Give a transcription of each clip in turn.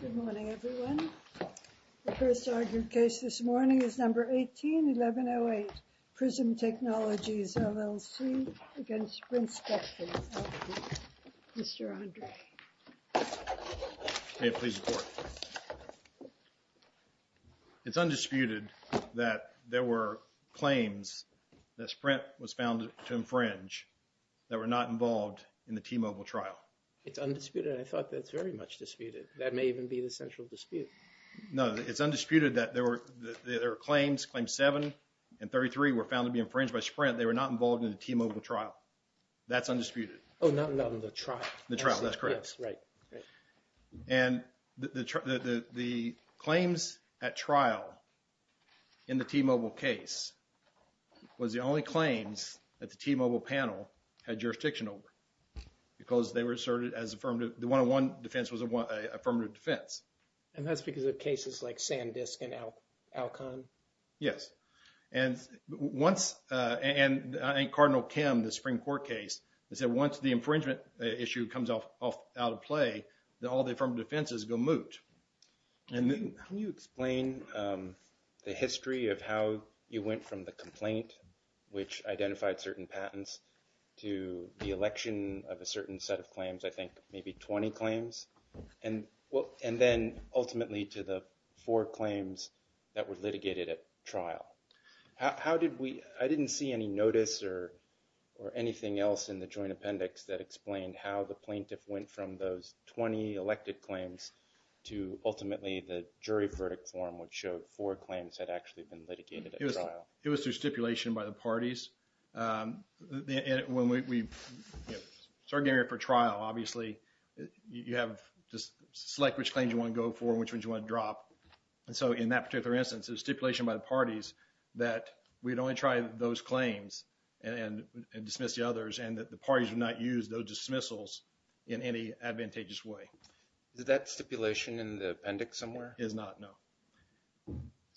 Good morning, everyone. The first argued case this morning is number 18-1108, Prism Technologies LLC against Sprint Spectrum L.P., Mr. Andre. May I please report? It's undisputed that there were claims that Sprint was found to infringe that were not involved in the T-Mobile trial. It's undisputed and I thought that's very much disputed. That may even be the central dispute. No, it's undisputed that there were claims, claims 7 and 33 were found to be infringed by Sprint. They were not involved in the T-Mobile trial. That's undisputed. Oh, not in the trial. The trial, that's correct. Yes, right. And the claims at trial in the T-Mobile case was the only claims that the T-Mobile panel had jurisdiction over because they were asserted as affirmative. The 101 defense was an affirmative defense. And that's because of cases like Sandisk and Alcon? Yes. And Cardinal Kim, the Supreme Court case, said once the infringement issue comes out of play, all the affirmative defenses go moot. Can you explain the history of how you went from the complaint, which identified certain patents, to the election of a certain set of claims, I think maybe 20 claims, and then ultimately to the four claims that were litigated at trial? I didn't see any notice or anything else in the joint appendix that explained how the plaintiff went from those 20 elected claims to ultimately the jury verdict form, which showed four claims had actually been litigated at trial. It was through stipulation by the parties. When we started getting ready for trial, obviously, you have to select which claims you want to go for and which ones you want to drop. And so in that particular instance, it was stipulation by the parties that we'd only try those claims and dismiss the others and that the parties would not use those dismissals in any advantageous way. Is that stipulation in the appendix somewhere? It is not, no.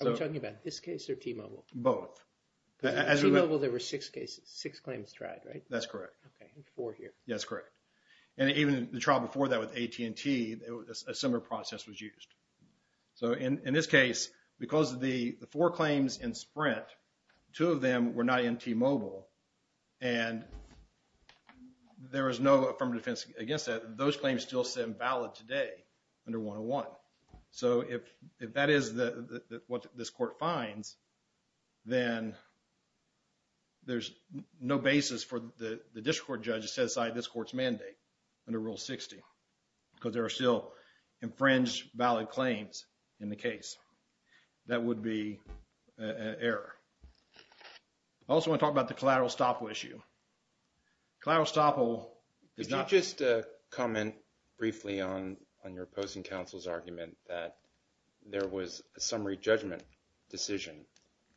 Are we talking about this case or T-Mobile? Both. In T-Mobile, there were six cases, six claims tried, right? That's correct. Four here. That's correct. And even the trial before that with AT&T, a similar process was used. So in this case, because of the four claims in Sprint, two of them were not in T-Mobile, and there was no affirmative defense against that. Those claims still stand valid today under 101. So if that is what this court finds, then there's no basis for the district court judge to set aside this court's mandate under Rule 60 because there are still infringed valid claims in the case. That would be an error. I also want to talk about the collateral estoppel issue. Collateral estoppel is not— I want to comment briefly on your opposing counsel's argument that there was a summary judgment decision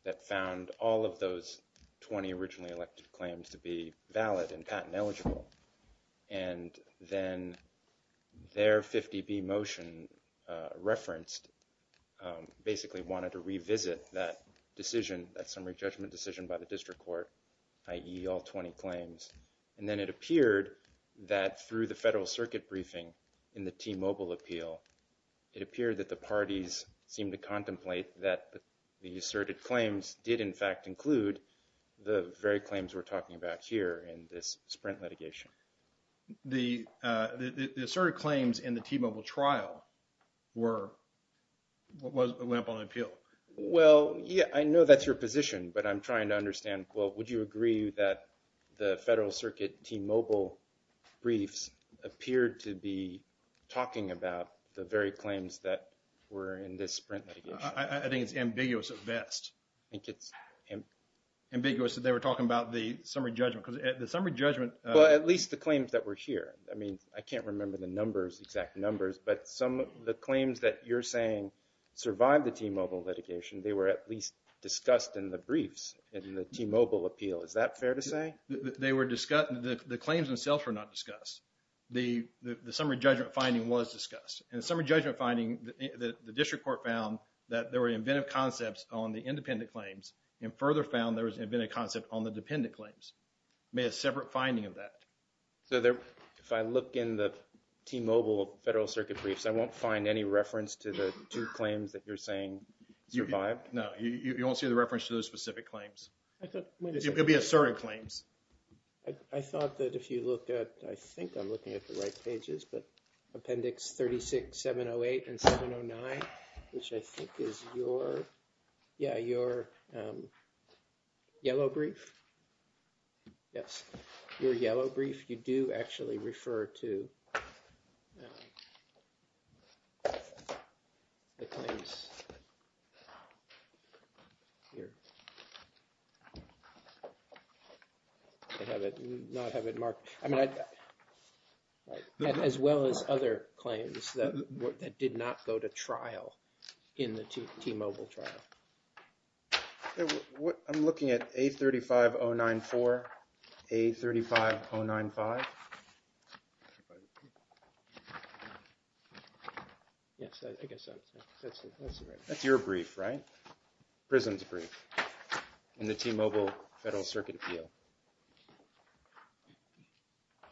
that found all of those 20 originally elected claims to be valid and patent eligible. And then their 50B motion referenced basically wanted to revisit that decision, that summary judgment decision by the district court, i.e. all 20 claims. And then it appeared that through the federal circuit briefing in the T-Mobile appeal, it appeared that the parties seemed to contemplate that the asserted claims did in fact include the very claims we're talking about here in this Sprint litigation. The asserted claims in the T-Mobile trial were—went up on appeal. Well, yeah, I know that's your position, but I'm trying to understand, well, would you agree that the federal circuit T-Mobile briefs appeared to be talking about the very claims that were in this Sprint litigation? I think it's ambiguous at best. I think it's ambiguous that they were talking about the summary judgment because the summary judgment— Well, at least the claims that were here. I mean, I can't remember the numbers, exact numbers, but some of the claims that you're saying survived the T-Mobile litigation, they were at least discussed in the briefs in the T-Mobile appeal. Is that fair to say? They were discussed—the claims themselves were not discussed. The summary judgment finding was discussed. In the summary judgment finding, the district court found that there were inventive concepts on the independent claims and further found there was an inventive concept on the dependent claims. May have separate finding of that. So, if I look in the T-Mobile federal circuit briefs, I won't find any reference to the two claims that you're saying survived? No, you won't see the reference to those specific claims. I thought— It would be asserted claims. I thought that if you look at—I think I'm looking at the right pages, but Appendix 36708 and 709, which I think is your—yeah, your yellow brief. Yes, your yellow brief. You do actually refer to the claims here. I have it—not have it marked. I mean, as well as other claims that did not go to trial in the T-Mobile trial. I'm looking at A-35094, A-35095. Yes, I guess that's—that's your brief, right? Prison's brief in the T-Mobile federal circuit appeal.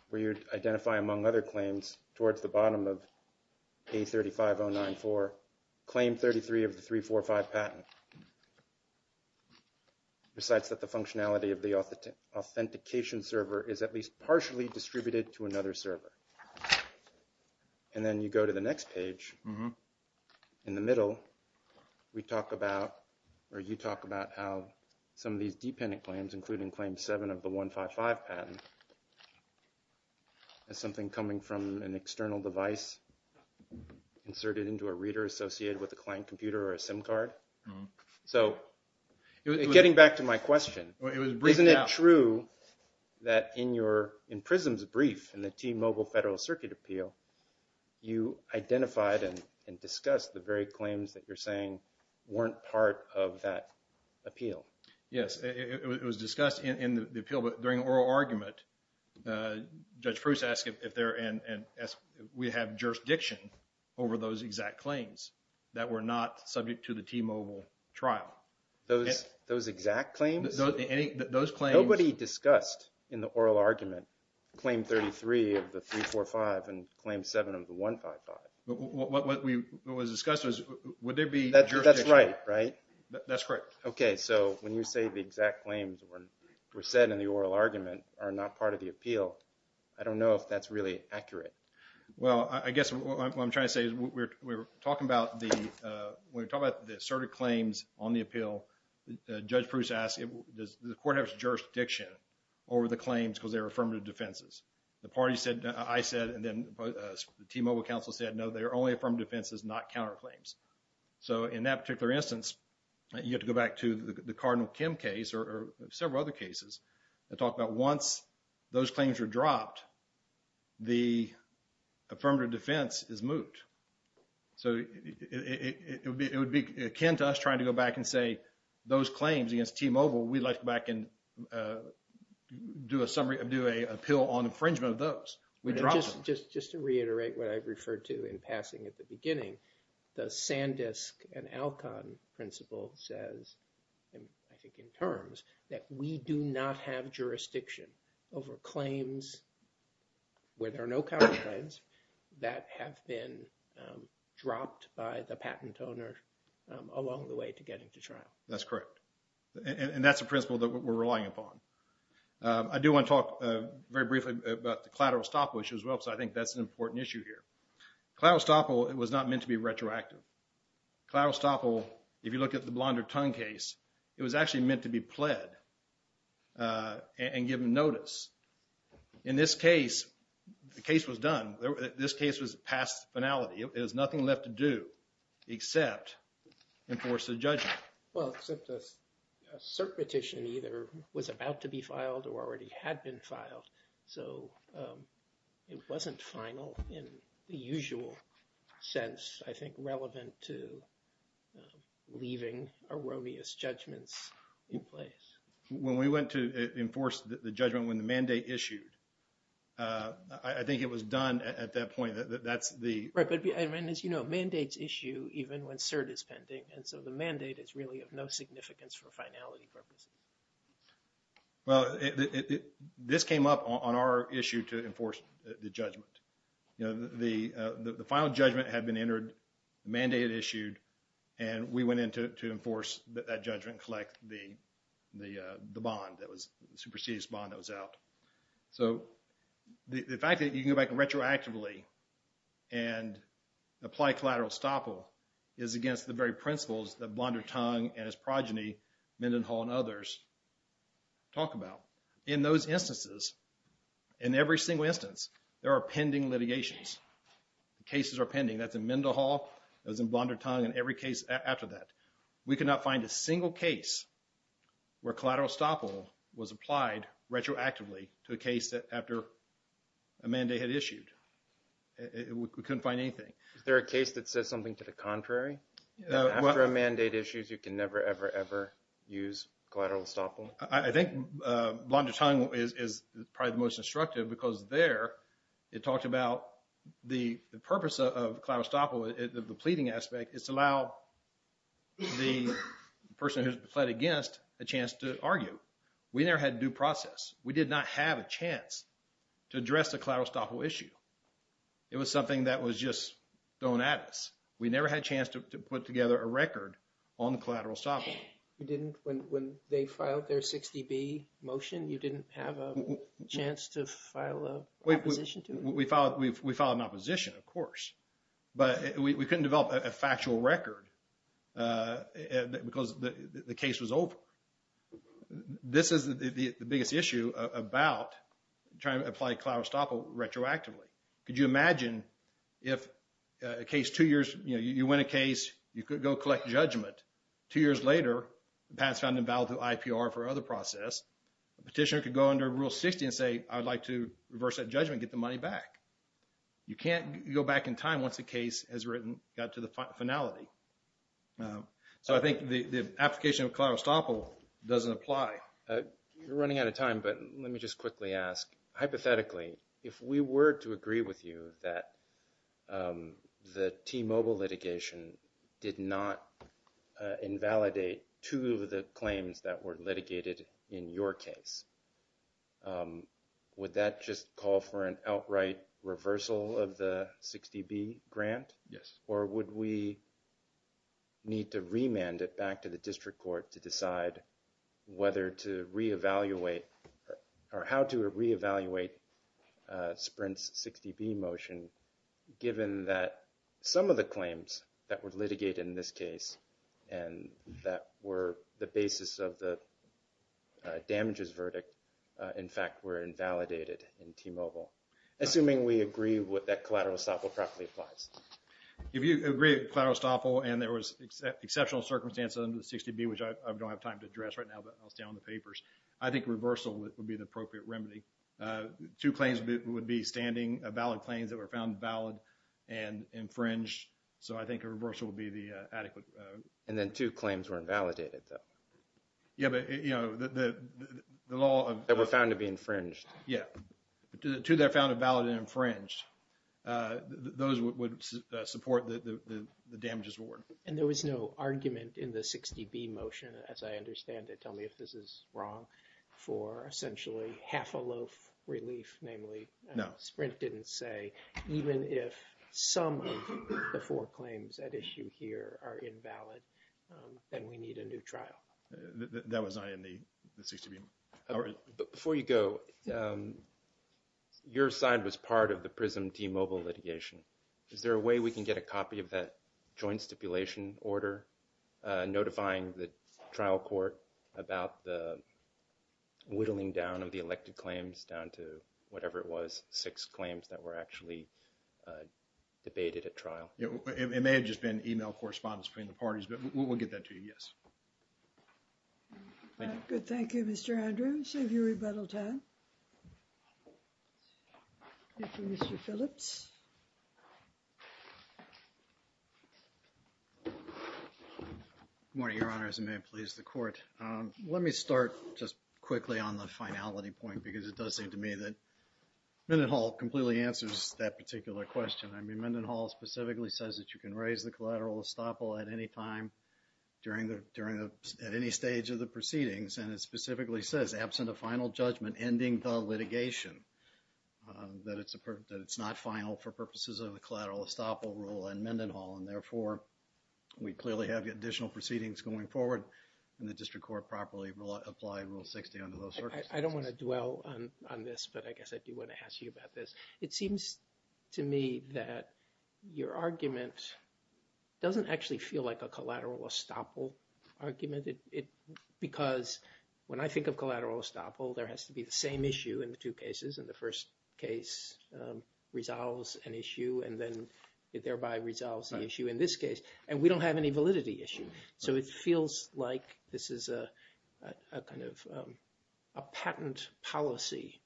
Where you identify, among other claims, towards the bottom of A-35094, Claim 33 of the 345 patent. Recites that the functionality of the authentication server is at least partially distributed to another server. And then you go to the next page. In the middle, we talk about—or you talk about how some of these dependent claims, including Claim 7 of the 155 patent, is something coming from an external device inserted into a reader associated with a client computer or a SIM card. So getting back to my question, isn't it true that in your—in Prison's brief in the T-Mobile federal circuit appeal, you identified and discussed the very claims that you're saying weren't part of that appeal? Yes, it was discussed in the appeal, but during oral argument, Judge Proust asked if there—and we have jurisdiction over those exact claims that were not subject to the T-Mobile trial. Those exact claims? Those claims— Nobody discussed in the oral argument Claim 33 of the 345 and Claim 7 of the 155. What was discussed was would there be— That's right, right? That's correct. Okay, so when you say the exact claims were said in the oral argument are not part of the appeal, I don't know if that's really accurate. Well, I guess what I'm trying to say is we're talking about the—we're talking about the asserted claims on the appeal. Judge Proust asked if the court has jurisdiction over the claims because they were affirmative defenses. The party said—I said and then the T-Mobile counsel said, no, they are only affirmative defenses, not counterclaims. So in that particular instance, you have to go back to the Cardinal Kim case or several other cases that talk about once those claims are dropped, the affirmative defense is moot. So it would be akin to us trying to go back and say those claims against T-Mobile, we'd like to go back and do a summary—do an appeal on infringement of those. We dropped them. Just to reiterate what I referred to in passing at the beginning, the Sandisk and Alcon principle says, and I think in terms, that we do not have jurisdiction over claims where there are no counterclaims that have been dropped by the patent owner along the way to getting to trial. That's correct. And that's a principle that we're relying upon. I do want to talk very briefly about the collateral estoppel issue as well because I think that's an important issue here. Collateral estoppel was not meant to be retroactive. Collateral estoppel, if you look at the Blonder Tongue case, it was actually meant to be pled and given notice. In this case, the case was done. This case was past finality. It has nothing left to do except enforce the judgment. Well, except a cert petition either was about to be filed or already had been filed. So it wasn't final in the usual sense, I think, relevant to leaving erroneous judgments in place. When we went to enforce the judgment when the mandate issued, I think it was done at that point. As you know, mandates issue even when cert is pending. And so the mandate is really of no significance for finality purposes. Well, this came up on our issue to enforce the judgment. The final judgment had been entered, mandated, issued, and we went in to enforce that judgment, collect the bond, the superseded bond that was out. So the fact that you can go back retroactively and apply collateral estoppel is against the very principles that Blonder Tongue and its progeny, Mendenhall and others, talk about. In those instances, in every single instance, there are pending litigations. Cases are pending. That's in Mendenhall, that's in Blonder Tongue, and every case after that. We could not find a single case where collateral estoppel was applied retroactively to a case that after a mandate had issued. We couldn't find anything. Is there a case that says something to the contrary? After a mandate issues, you can never, ever, ever use collateral estoppel? I think Blonder Tongue is probably the most instructive because there it talks about the purpose of collateral estoppel, the pleading aspect. It's to allow the person who's pled against a chance to argue. We never had due process. We did not have a chance to address the collateral estoppel issue. It was something that was just thrown at us. We never had a chance to put together a record on the collateral estoppel. When they filed their 60B motion, you didn't have a chance to file an opposition to it? We filed an opposition, of course. But we couldn't develop a factual record because the case was open. This is the biggest issue about trying to apply collateral estoppel retroactively. Could you imagine if a case two years, you know, you win a case, you could go collect judgment. Two years later, the patent's found invalid through IPR for other process. A petitioner could go under Rule 60 and say, I would like to reverse that judgment, get the money back. You can't go back in time once the case has written, got to the finality. So I think the application of collateral estoppel doesn't apply. You're running out of time, but let me just quickly ask. Hypothetically, if we were to agree with you that the T-Mobile litigation did not invalidate two of the claims that were litigated in your case, would that just call for an outright reversal of the 60B grant? Yes. Or would we need to remand it back to the district court to decide whether to re-evaluate or how to re-evaluate Sprint's 60B motion, given that some of the claims that were litigated in this case and that were the basis of the damages verdict, in fact, were invalidated in T-Mobile? Assuming we agree with that collateral estoppel properly applies. If you agree with collateral estoppel and there was exceptional circumstances under the 60B, which I don't have time to address right now, but I'll stay on the papers, I think reversal would be the appropriate remedy. Two claims would be standing, valid claims that were found valid and infringed. So I think a reversal would be the adequate. And then two claims were invalidated, though. Yeah, but, you know, the law of— That were found to be infringed. Yeah, two that were found valid and infringed. Those would support the damages award. And there was no argument in the 60B motion, as I understand it. Tell me if this is wrong, for essentially half a loaf relief, namely. No. Sprint didn't say, even if some of the four claims at issue here are invalid, then we need a new trial. That was not in the 60B. Before you go, your side was part of the PRISM T-Mobile litigation. Is there a way we can get a copy of that joint stipulation order notifying the trial court about the whittling down of the elected claims down to whatever it was, six claims that were actually debated at trial? It may have just been email correspondence between the parties, but we'll get that to you, yes. Thank you. Good, thank you, Mr. Andrews. Save you rebuttal time. Thank you, Mr. Phillips. Good morning, Your Honors, and may it please the Court. Let me start just quickly on the finality point because it does seem to me that Mendenhall completely answers that particular question. I mean, Mendenhall specifically says that you can raise the collateral estoppel at any time during the, during the, at any stage of the proceedings, and it specifically says, absent a final judgment ending the litigation, that it's a, that it's not final for purposes of the collateral estoppel rule in Mendenhall, and therefore, we clearly have additional proceedings going forward, and the district court properly will apply Rule 60 under those circumstances. I don't want to dwell on this, but I guess I do want to ask you about this. It seems to me that your argument doesn't actually feel like a collateral estoppel argument. It, because when I think of collateral estoppel, there has to be the same issue in the two cases, and the first case resolves an issue and then it thereby resolves the issue in this case, and we don't have any validity issue. So it feels like this is a kind of a patent policy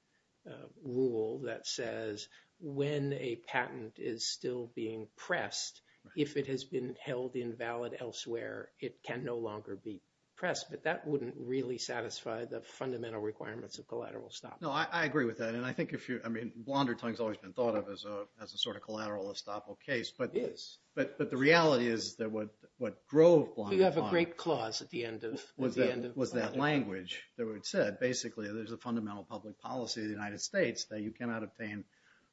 rule that says when a patent is still being pressed, if it has been held invalid elsewhere, it can no longer be pressed, but that wouldn't really satisfy the fundamental requirements of collateral estoppel. No, I agree with that, and I think if you, I mean, blonder tongue's always been thought of as a sort of collateral estoppel case, but the reality is that what drove blonder tongue was that language that was said. Basically, there's a fundamental public policy of the United States that you cannot obtain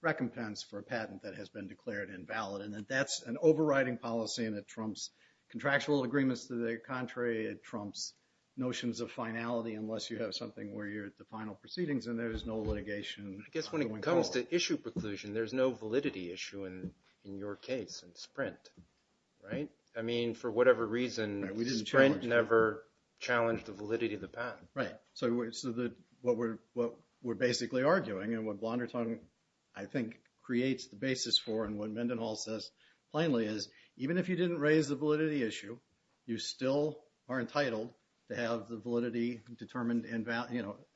recompense for a patent that has been declared invalid, and that's an overriding policy, and it trumps contractual agreements to the contrary. It trumps notions of finality unless you have something where you're at the final proceedings and there's no litigation going forward. I guess when it comes to issue preclusion, there's no validity issue in your case in Sprint, right? I mean, for whatever reason, Sprint never challenged the validity of the patent. Right, so what we're basically arguing, and what blonder tongue, I think, creates the basis for, and what Mendenhall says plainly is even if you didn't raise the validity issue, you still are entitled to have the validity determined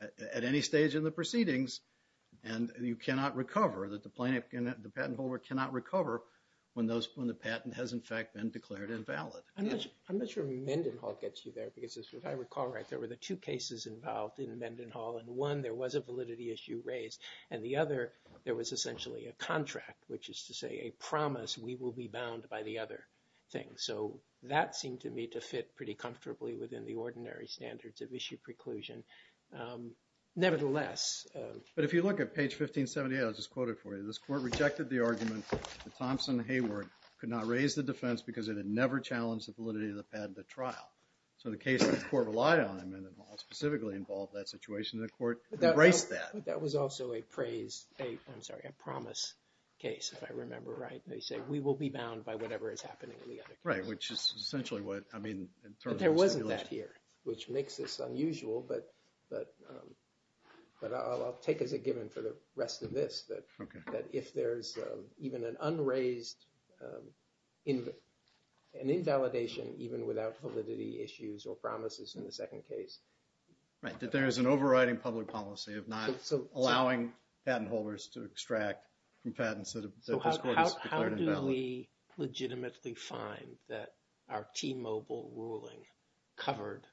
at any stage in the proceedings, and you cannot recover. The patent holder cannot recover when the patent has, in fact, been declared invalid. I'm not sure Mendenhall gets you there, because if I recall right, there were the two cases involved in Mendenhall, and one, there was a validity issue raised, and the other, there was essentially a contract, which is to say a promise, we will be bound by the other thing. So that seemed to me to fit pretty comfortably within the ordinary standards of issue preclusion. Nevertheless. But if you look at page 1578, I'll just quote it for you. This court rejected the argument that Thompson Hayward could not raise the defense because it had never challenged the validity of the patent at trial. So the case that the court relied on in Mendenhall specifically involved that situation, and the court embraced that. But that was also a praise, I'm sorry, a promise case, if I remember right. They say, we will be bound by whatever is happening in the other case. Right, which is essentially what, I mean, in terms of the stipulation. Which makes this unusual, but I'll take as a given for the rest of this, that if there's even an unraised, an invalidation even without validity issues or promises in the second case. Right, that there is an overriding public policy of not allowing patent holders to extract from patents that this court has declared invalid. How do we legitimately find that our T-Mobile ruling covered,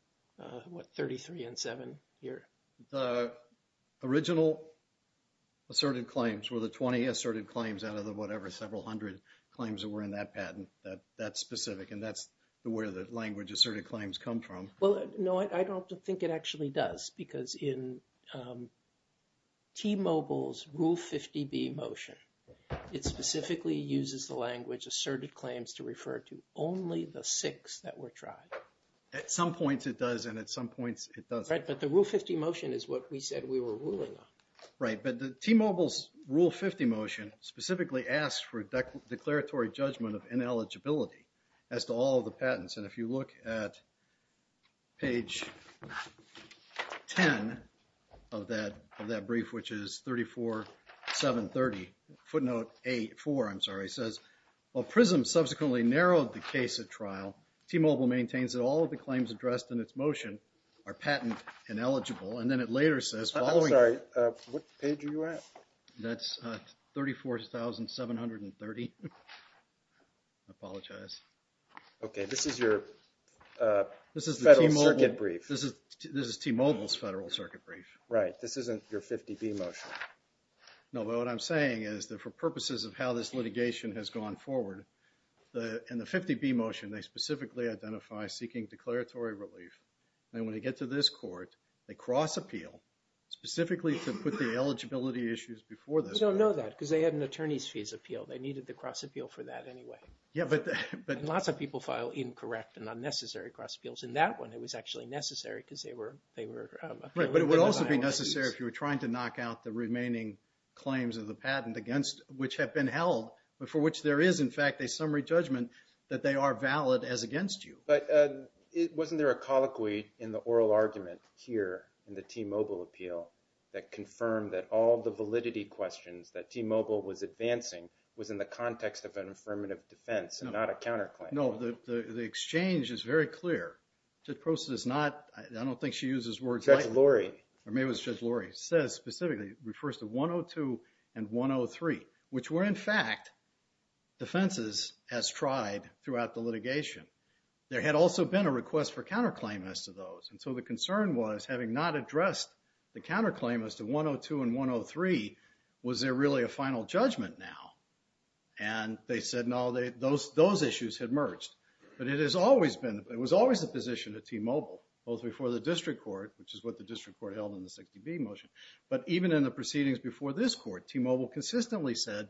what, 33 and 7 here? The original asserted claims were the 20 asserted claims out of the whatever, several hundred claims that were in that patent. That's specific, and that's where the language asserted claims come from. Well, no, I don't think it actually does, because in T-Mobile's Rule 50B motion, it specifically uses the language asserted claims to refer to only the six that were tried. At some points it does, and at some points it doesn't. Right, but the Rule 50 motion is what we said we were ruling on. Right, but the T-Mobile's Rule 50 motion specifically asks for declaratory judgment of ineligibility as to all of the patents. And if you look at page 10 of that brief, which is 34730, footnote 4, I'm sorry, says, while PRISM subsequently narrowed the case at trial, T-Mobile maintains that all of the claims addressed in its motion are patent ineligible. And then it later says, following… I'm sorry, what page are you at? That's 34730. I apologize. Okay, this is your Federal Circuit brief. This is T-Mobile's Federal Circuit brief. Right, this isn't your 50B motion. No, but what I'm saying is that for purposes of how this litigation has gone forward, in the 50B motion, they specifically identify seeking declaratory relief. And when they get to this court, they cross-appeal specifically to put the eligibility issues before this one. We don't know that, because they had an attorney's fees appeal. They needed to cross-appeal for that anyway. Yeah, but… Lots of people file incorrect and unnecessary cross-appeals. In that one, it was actually necessary because they were… Right, but it would also be necessary if you were trying to knock out the remaining claims of the patent against which have been held, for which there is, in fact, a summary judgment that they are valid as against you. But wasn't there a colloquy in the oral argument here in the T-Mobile appeal that confirmed that all the validity questions that T-Mobile was advancing was in the context of an affirmative defense and not a counterclaim? No, the exchange is very clear. Judge Prosser does not… I don't think she uses words like that. Judge Lurie. Or maybe it was Judge Lurie. Says specifically, refers to 102 and 103, which were, in fact, defenses as tried throughout the litigation. There had also been a request for counterclaim as to those. And so the concern was, having not addressed the counterclaim as to 102 and 103, was there really a final judgment now? And they said, no, those issues had merged. But it has always been, it was always the position of T-Mobile, both before the district court, which is what the district court held in the 60B motion, but even in the proceedings before this court, T-Mobile consistently said,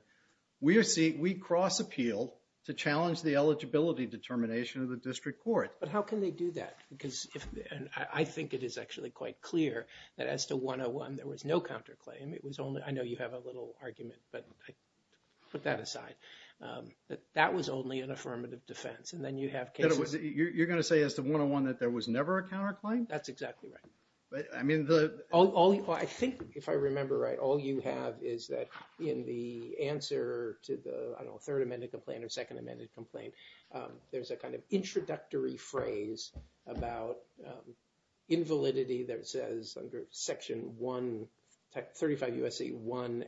we cross-appeal to challenge the eligibility determination of the district court. But how can they do that? Because if, and I think it is actually quite clear that as to 101, there was no counterclaim. It was only, I know you have a little argument, but put that aside, that that was only an affirmative defense. And then you have cases… You're going to say as to 101 that there was never a counterclaim? That's exactly right. But, I mean, the… I think, if I remember right, all you have is that in the answer to the, I don't know, third amended complaint or second amended complaint, there's a kind of introductory phrase about invalidity that says under Section 135 U.S.C. 1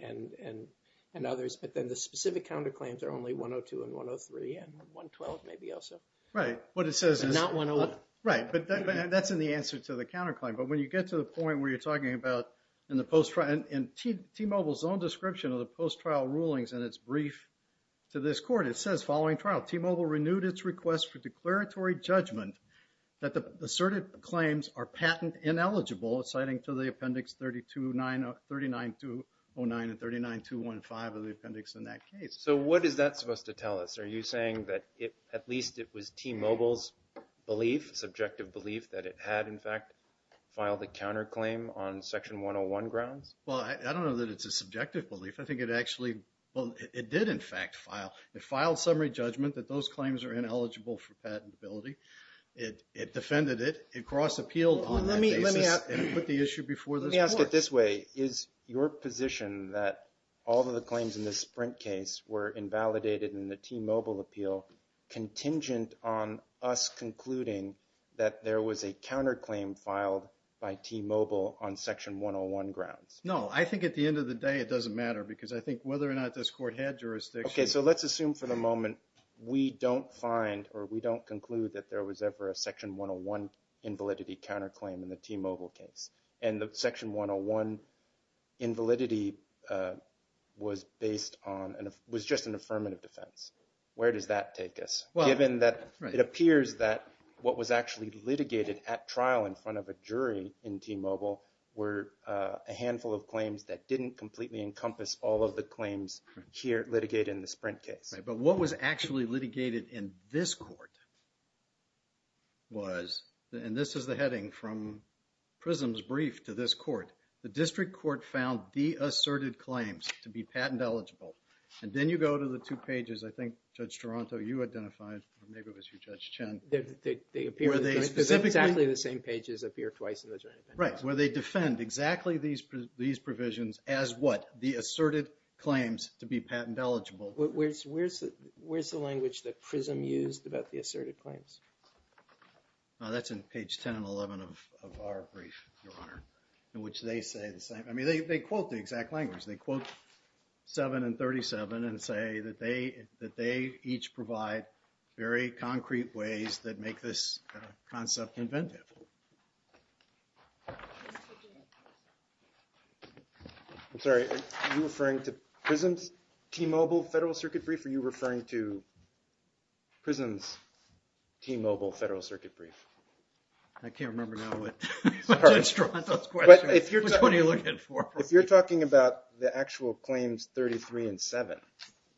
and others, but then the specific counterclaims are only 102 and 103 and 112 maybe also. Right, what it says is… Not 101. Right, but that's in the answer to the counterclaim. But when you get to the point where you're talking about, in T-Mobile's own description of the post-trial rulings in its brief to this court, it says following trial, T-Mobile renewed its request for declaratory judgment that the asserted claims are patent ineligible, citing to the appendix 3909 and 39215 of the appendix in that case. So what is that supposed to tell us? Are you saying that at least it was T-Mobile's belief, subjective belief, that it had, in fact, filed a counterclaim on Section 101 grounds? Well, I don't know that it's a subjective belief. I think it actually, well, it did, in fact, file. It filed summary judgment that those claims are ineligible for patentability. It defended it. It cross-appealed on that basis and put the issue before this court. Let me ask it this way. Is your position that all of the claims in this Sprint case were invalidated in the T-Mobile appeal contingent on us concluding that there was a counterclaim filed by T-Mobile on Section 101 grounds? No, I think at the end of the day it doesn't matter because I think whether or not this court had jurisdiction. Okay, so let's assume for the moment we don't find or we don't conclude that there was ever a Section 101 invalidity counterclaim in the T-Mobile case and that Section 101 invalidity was based on and was just an affirmative defense. Where does that take us given that it appears that what was actually litigated at trial in front of a jury in T-Mobile were a handful of claims that didn't completely encompass all of the claims here litigated in the Sprint case? But what was actually litigated in this court was, and this is the heading from Prism's brief to this court. The district court found the asserted claims to be patent eligible. And then you go to the two pages, I think Judge Toronto, you identified or maybe it was you Judge Chen. They appear exactly the same pages appear twice in the jury. Right, where they defend exactly these provisions as what? The asserted claims to be patent eligible. Where's the language that Prism used about the asserted claims? That's in page 10 and 11 of our brief, Your Honor, in which they say the same. I mean, they quote the exact language. They quote 7 and 37 and say that they each provide very concrete ways that make this concept inventive. I'm sorry, are you referring to Prism's T-Mobile Federal Circuit brief or are you referring to Prism's T-Mobile Federal Circuit brief? I can't remember now what Judge Toronto's question is. Which one are you looking for? If you're talking about the actual claims 33 and 7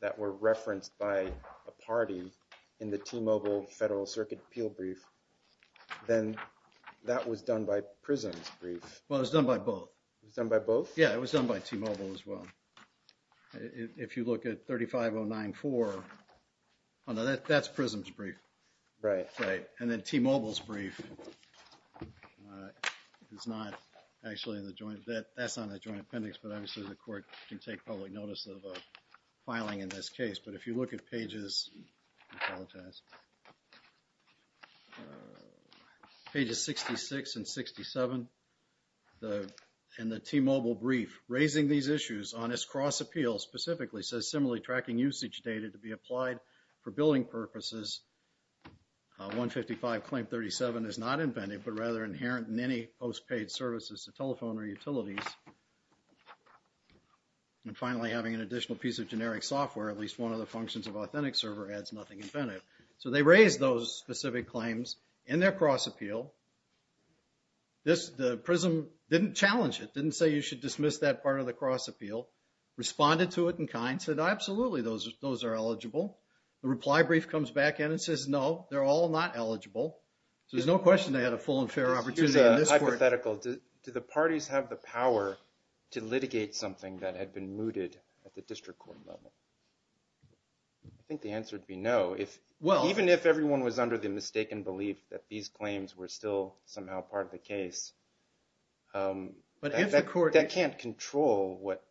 that were referenced by a party in the T-Mobile Federal Circuit appeal brief, then that was done by Prism's brief. Well, it was done by both. It was done by both? Yeah, it was done by T-Mobile as well. If you look at 35094, that's Prism's brief. Right. And then T-Mobile's brief is not actually in the joint, that's on the joint appendix, but obviously the court can take public notice of a filing in this case. But if you look at pages, I apologize, pages 66 and 67, in the T-Mobile brief, raising these issues on this cross appeal specifically says similarly tracking usage data to be applied for billing purposes. 155 claim 37 is not inventive, but rather inherent in any postpaid services to telephone or utilities. And finally, having an additional piece of generic software, at least one of the functions of authentic server adds nothing inventive. So they raised those specific claims in their cross appeal. The Prism didn't challenge it, didn't say you should dismiss that part of the cross appeal. Responded to it in kind, said, absolutely, those are eligible. The reply brief comes back in and says, no, they're all not eligible. So there's no question they had a full and fair opportunity in this court. Here's a hypothetical. Do the parties have the power to litigate something that had been mooted at the district court level? I think the answer would be no. Even if everyone was under the mistaken belief that these claims were still somehow part of the case, that can't control what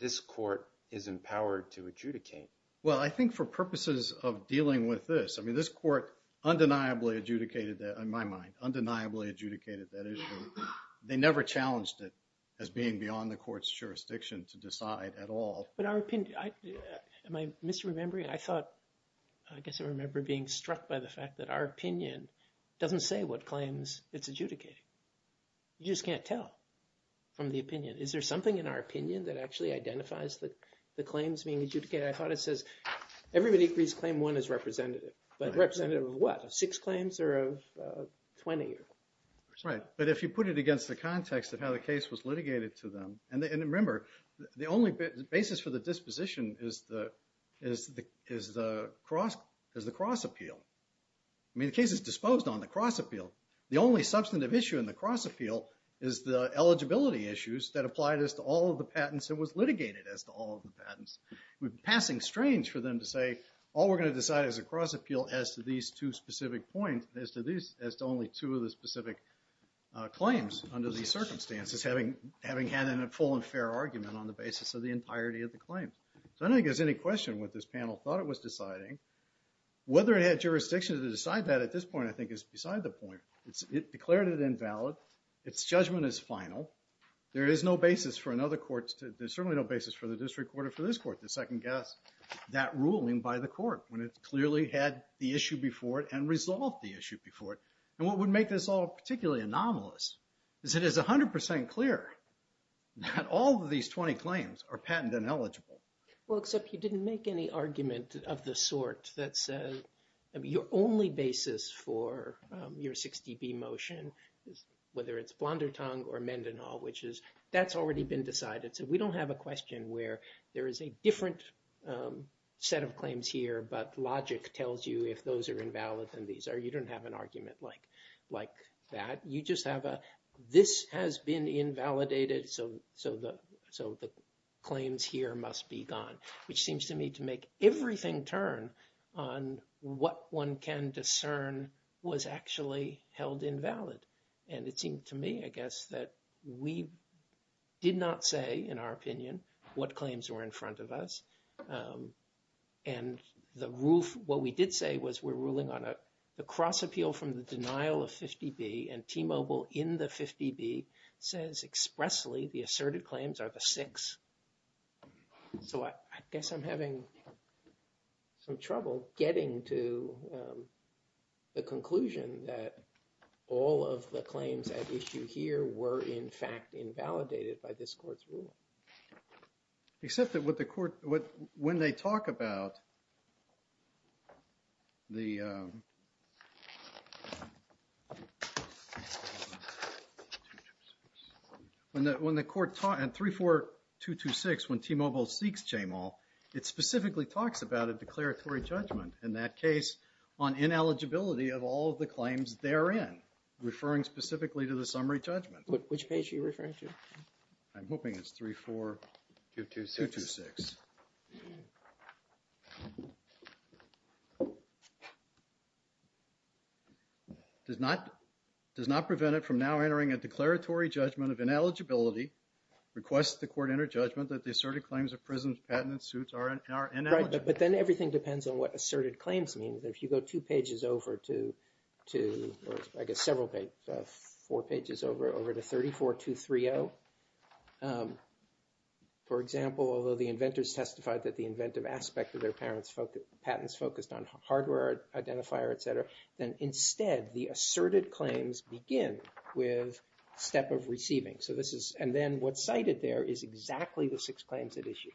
this court is empowered to adjudicate. Well, I think for purposes of dealing with this, I mean, this court undeniably adjudicated that, in my mind, undeniably adjudicated that issue. They never challenged it as being beyond the court's jurisdiction to decide at all. Am I misremembering? I thought, I guess I remember being struck by the fact that our opinion doesn't say what claims it's adjudicating. You just can't tell from the opinion. Is there something in our opinion that actually identifies the claims being adjudicated? I thought it says, everybody agrees claim one is representative. But representative of what? Of six claims or of 20? Right. But if you put it against the context of how the case was litigated to them. And remember, the only basis for the disposition is the cross appeal. I mean, the case is disposed on the cross appeal. The only substantive issue in the cross appeal is the eligibility issues that applied as to all of the patents that was litigated as to all of the patents. It would be passing strange for them to say, all we're going to decide is a cross appeal as to these two specific points, as to only two of the specific claims under these circumstances, having had a full and fair argument on the basis of the entirety of the claim. So I don't think there's any question what this panel thought it was deciding. Whether it had jurisdiction to decide that at this point, I think, is beside the point. It declared it invalid. Its judgment is final. There is no basis for another court. There's certainly no basis for the district court or for this court to second guess that ruling by the court when it clearly had the issue before it and resolved the issue before it. And what would make this all particularly anomalous is it is 100% clear that all of these 20 claims are patent ineligible. Well, except you didn't make any argument of the sort that says your only basis for your 60B motion, whether it's Blondertongue or Mendenhall, which is, that's already been decided. So we don't have a question where there is a different set of claims here, but logic tells you if those are invalid than these are. You don't have an argument like that. You just have a, this has been invalidated, so the claims here must be gone, which seems to me to make everything turn on what one can discern was actually held invalid. And it seemed to me, I guess, that we did not say, in our opinion, what claims were in front of us. And the rule, what we did say was we're ruling on a cross appeal from the denial of 50B and T-Mobile in the 50B says expressly the asserted claims are the six. So I guess I'm having some trouble getting to the conclusion that all of the claims at issue here were in fact invalidated by this court's ruling. Except that what the court, when they talk about the, when the court, in 34226, when T-Mobile seeks Jamal, it specifically talks about a declaratory judgment. In that case, on ineligibility of all of the claims therein, referring specifically to the summary judgment. Which page are you referring to? I'm hoping it's 34226. Does not, does not prevent it from now entering a declaratory judgment of ineligibility, request the court enter judgment that the asserted claims of prison patent suits are ineligible. But then everything depends on what asserted claims mean. If you go two pages over to, I guess several pages, four pages over to 34230, for example, although the inventors testified that the inventive aspect of their patents focused on hardware identifier, etc. Then instead, the asserted claims begin with step of receiving. So this is, and then what's cited there is exactly the six claims at issue.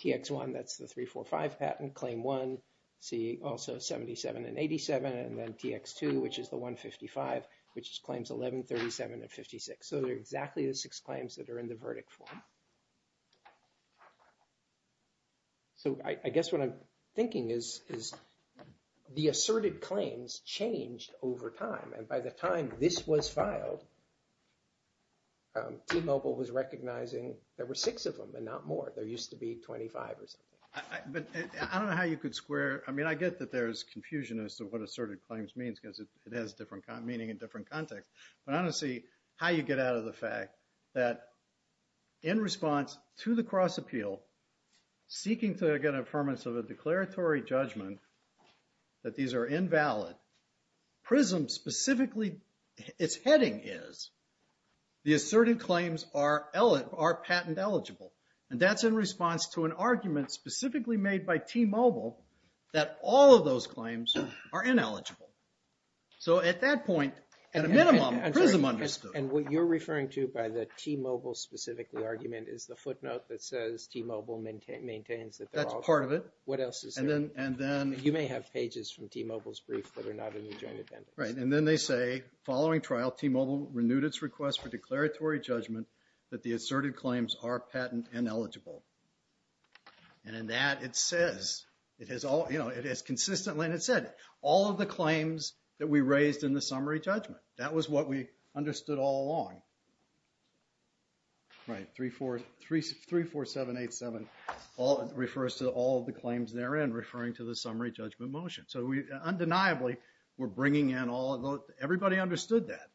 TX1, that's the 345 patent, claim one, see also 77 and 87, and then TX2, which is the 155, which is claims 11, 37, and 56. So they're exactly the six claims that are in the verdict form. So I guess what I'm thinking is, is the asserted claims changed over time. And by the time this was filed, T-Mobile was recognizing there were six of them and not more. There used to be 25 or something. But I don't know how you could square. I mean, I get that there's confusion as to what asserted claims means because it has different meaning in different context. But I don't see how you get out of the fact that in response to the cross appeal, seeking to get an affirmance of a declaratory judgment that these are invalid, PRISM specifically, its heading is, the asserted claims are patent eligible. And that's in response to an argument specifically made by T-Mobile that all of those claims are ineligible. So at that point, at a minimum, PRISM understood. And what you're referring to by the T-Mobile specifically argument is the footnote that says T-Mobile maintains that they're all- That's part of it. What else is there? And then- You may have pages from T-Mobile's brief that are not in the joint appendix. Right, and then they say, following trial, T-Mobile renewed its request for declaratory judgment that the asserted claims are patent ineligible. And in that, it says, it has all- You know, it has consistently, and it said, all of the claims that we raised in the summary judgment. That was what we understood all along. Right, 34- 34787 all- It refers to all of the claims therein, referring to the summary judgment motion. So we, undeniably, we're bringing in all- Everybody understood that.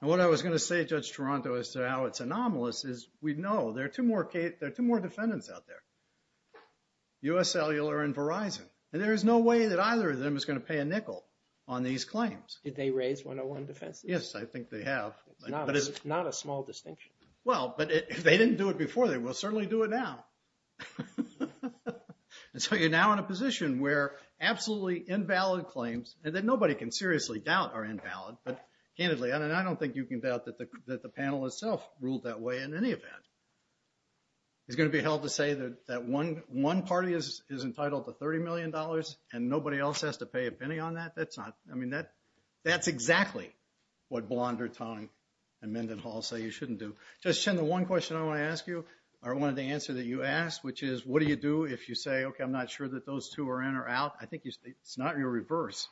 And what I was going to say, Judge Toronto, as to how it's anomalous, is we know there are two more defendants out there. U.S. Cellular and Verizon. And there is no way that either of them is going to pay a nickel on these claims. Did they raise 101 defenses? Yes, I think they have. But it's not a small distinction. Well, but if they didn't do it before, they will certainly do it now. And so you're now in a position where absolutely invalid claims, and that nobody can seriously doubt are invalid. But, candidly, I don't think you can doubt that the panel itself ruled that way in any event. It's going to be held to say that one party is entitled to $30 million, and nobody else has to pay a penny on that? That's not- I mean, that's exactly what Blonder, Tong, and Mendenhall say you shouldn't do. Judge Chin, the one question I want to ask you, or wanted to answer that you asked, which is, what do you do if you say, okay, I'm not sure that those two are in or out? I think it's not your reverse.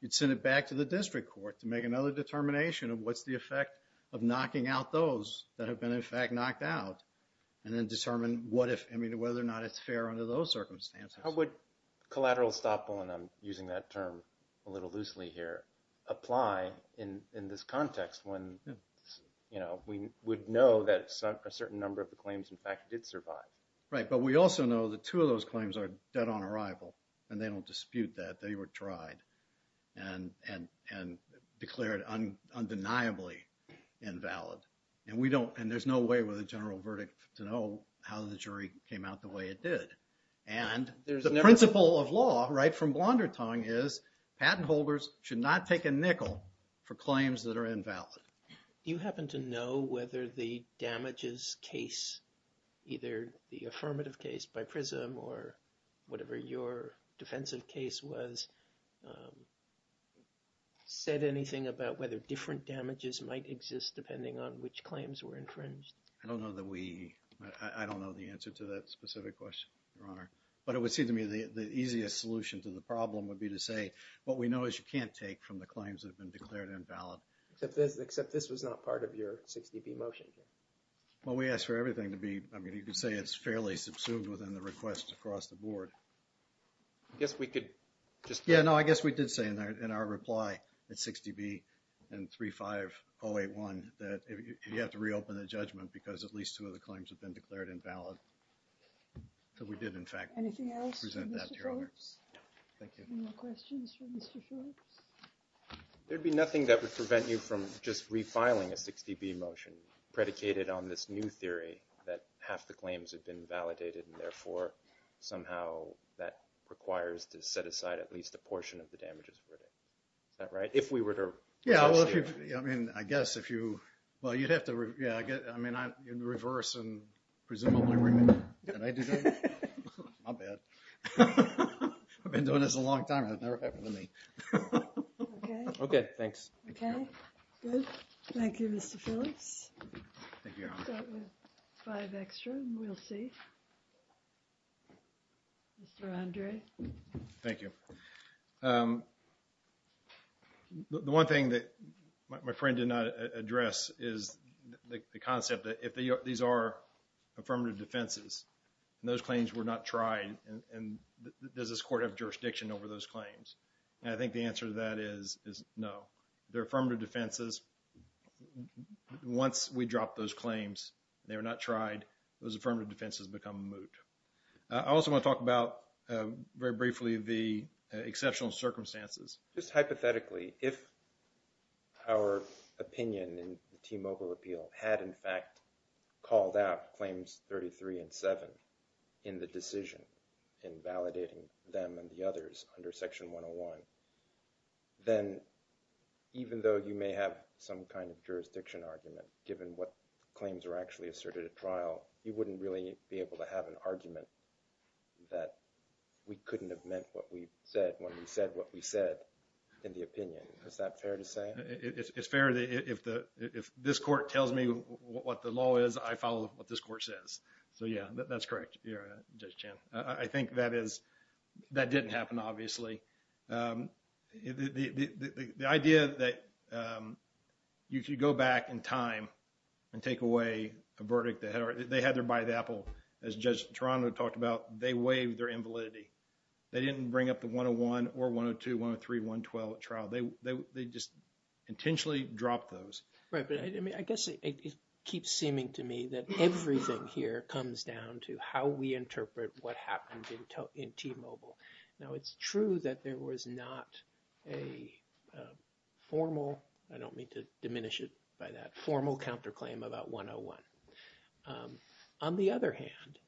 You'd send it back to the district court to make another determination of what's the effect of knocking out those that have been, in fact, knocked out, and then determine what if, I mean, whether or not it's fair under those circumstances. How would collateral estoppel, and I'm using that term a little loosely here, apply in this context when, you know, we would know that a certain number of the claims, in fact, did survive? Right, but we also know that two of those claims are dead on arrival, and they don't dispute that. They were tried and declared undeniably invalid. And we don't- and there's no way with a general verdict to know how the jury came out the way it did. And the principle of law, right, from Blondertongue is patent holders should not take a nickel for claims that are invalid. Do you happen to know whether the damages case, either the affirmative case by PRISM or whatever your defensive case was, said anything about whether different damages might exist depending on which claims were infringed? I don't know that we- I don't know the answer to that specific question, Your Honor. But it would seem to me the easiest solution to the problem would be to say, what we know is you can't take from the claims that have been declared invalid. Except this was not part of your 60B motion. Well, we asked for everything to be, I mean, you could say it's fairly subsumed within the request across the board. I guess we could just- Yeah, no, I guess we did say in our reply at 60B and 35081 that you have to reopen the judgment because at least two of the claims have been declared invalid. So we did, in fact, present that to Your Honor. Anything else for Mr. Phillips? Thank you. Any more questions for Mr. Phillips? There'd be nothing that would prevent you from just refiling a 60B motion predicated on this new theory that half the claims have been validated and therefore, somehow, that requires to set aside at least a portion of the damages for it. Is that right? If we were to- Yeah, well, if you- I mean, I guess if you- Well, you'd have to- Yeah, I guess- I mean, in reverse and presumably- Did I do that? My bad. I've been doing this a long time. It's never happened to me. Okay. Okay, thanks. Okay. Good. Thank you, Mr. Phillips. Thank you, Your Honor. We'll start with five extra and we'll see. Mr. Andre? Thank you. The one thing that my friend did not address is the concept that if these are affirmative defenses and those claims were not tried, does this court have jurisdiction over those claims? And I think the answer to that is no. They're affirmative defenses. Once we drop those claims, they were not tried, those affirmative defenses become moot. I also want to talk about, very briefly, the exceptional circumstances. Just hypothetically, if our opinion in the T-MOGA repeal had, in fact, called out claims 33 and 7 in the decision in validating them and the others under Section 101, then even though you may have some kind of jurisdiction argument, given what claims are actually asserted at trial, you wouldn't really be able to have an argument that we couldn't have meant what we said when we said what we said in the opinion. Is that fair to say? It's fair. If this court tells me what the law is, I follow what this court says. So, yeah, that's correct, Judge Chan. I think that didn't happen, obviously. The idea that you could go back in time and take away a verdict. They had their bide apple. As Judge Toronto talked about, they waived their invalidity. They didn't bring up the 101 or 102, 103, 112 at trial. They just intentionally dropped those. Right, but I guess it keeps seeming to me that everything here comes down to how we interpret what happened in T-Mobile. Now, it's true that there was not a formal, I don't mean to diminish it by that, formal counterclaim about 101. On the other hand,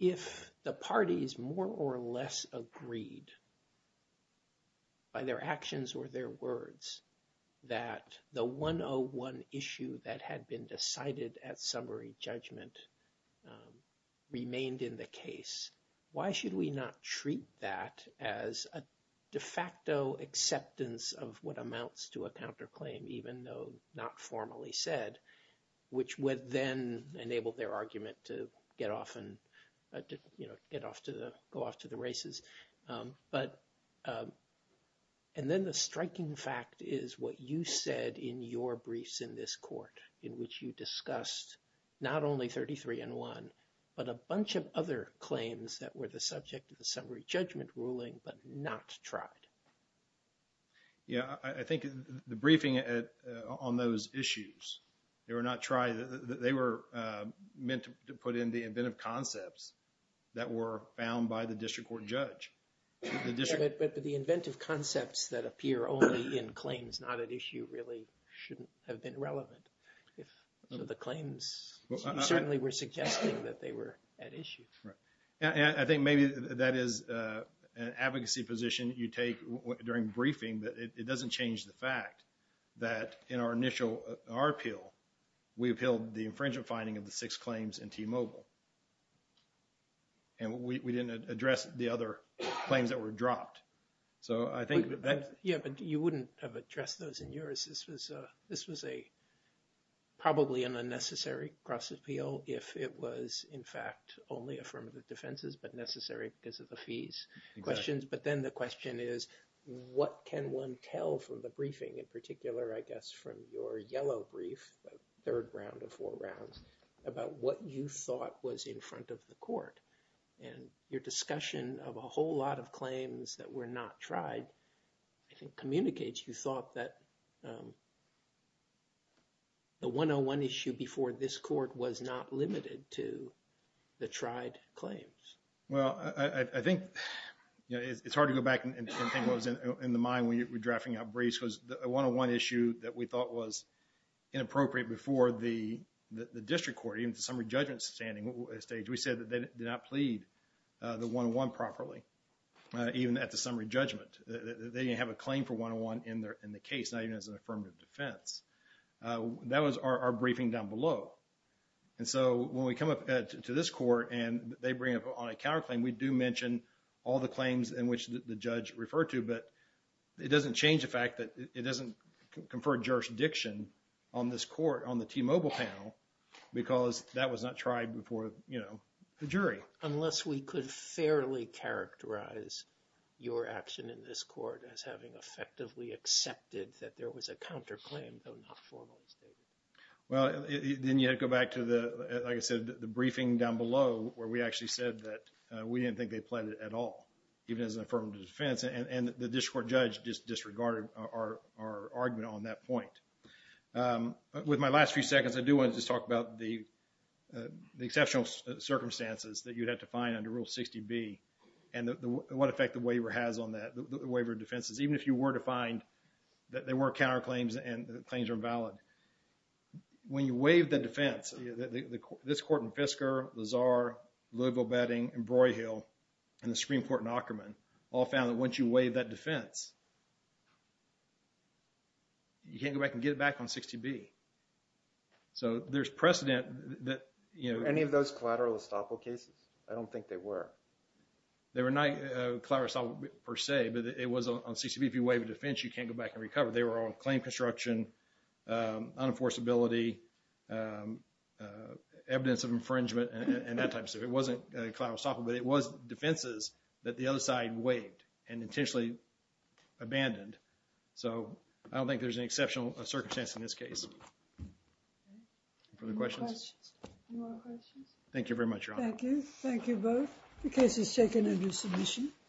if the parties more or less agreed by their actions or their words that the 101 issue that had been decided at summary judgment remained in the case, why should we not treat that as a de facto acceptance of what amounts to a counterclaim, even though not formally said, which would then enable their argument to get off and, you know, go off to the races. But, and then the striking fact is what you said in your briefs in this court, in which you discussed not only 33 and 1, but a bunch of other claims that were the subject of the summary judgment ruling but not tried. Yeah, I think the briefing on those issues, they were not tried. They were meant to put in the inventive concepts that were found by the district court judge. But the inventive concepts that appear only in claims not at issue really shouldn't have been relevant. So the claims certainly were suggesting that they were at issue. I think maybe that is an advocacy position you take during briefing that it doesn't change the fact that in our initial appeal, we appealed the infringement finding of the six claims in T-Mobile. And we didn't address the other claims that were dropped. So I think that that's. Yeah, but you wouldn't have addressed those in yours. This was a probably an unnecessary cross appeal if it was in fact only affirmative defenses but necessary because of the fees questions. But then the question is, what can one tell from the briefing in particular, I guess, from your yellow brief, third round of four rounds, about what you thought was in front of the court? And your discussion of a whole lot of claims that were not tried, I think, communicates you thought that the 101 issue before this court was not limited to the tried claims. Well, I think it's hard to go back and think what was in the mind when we were drafting our briefs because the 101 issue that we thought was inappropriate before the district court, even the summary judgment standing stage, we said that they did not plead the 101 properly, even at the summary judgment. They didn't have a claim for 101 in the case, not even as an affirmative defense. That was our briefing down below. And so when we come up to this court and they bring up on a counterclaim, we do mention all the claims in which the judge referred to, but it doesn't change the fact that it doesn't confer jurisdiction on this court on the T-Mobile panel because that was not tried before the jury. Unless we could fairly characterize your action in this court as having effectively accepted that there was a counterclaim though not formally stated. Well, then you have to go back to the, like I said, the briefing down below where we actually said that we didn't think they pleaded at all, even as an affirmative defense, and the district court judge just disregarded our argument on that point. With my last few seconds, I do want to just talk about the exceptional circumstances that you'd have to find under Rule 60B and what effect the waiver has on that, the waiver of defenses, even if you were to find that there were counterclaims and the claims are invalid. When you waive the defense, this court in Fisker, Lazar, Louisville-Bedding, and Broyhill, and the Supreme Court in Ockerman all found that once you waive that defense, you can't go back and get it back on 60B. So there's precedent that, you know... Were any of those collateral estoppel cases? I don't think they were. They were not collateral estoppel per se, but it was on 60B. If you waive a defense, you can't go back and recover. They were all claim construction, unenforceability, evidence of infringement, and that type of stuff. It wasn't collateral estoppel, but it was defenses that the other side waived and intentionally abandoned. So I don't think there's an exceptional circumstance in this case. Further questions? Any more questions? Thank you very much, Your Honor. Thank you. Thank you both. The case is taken under submission.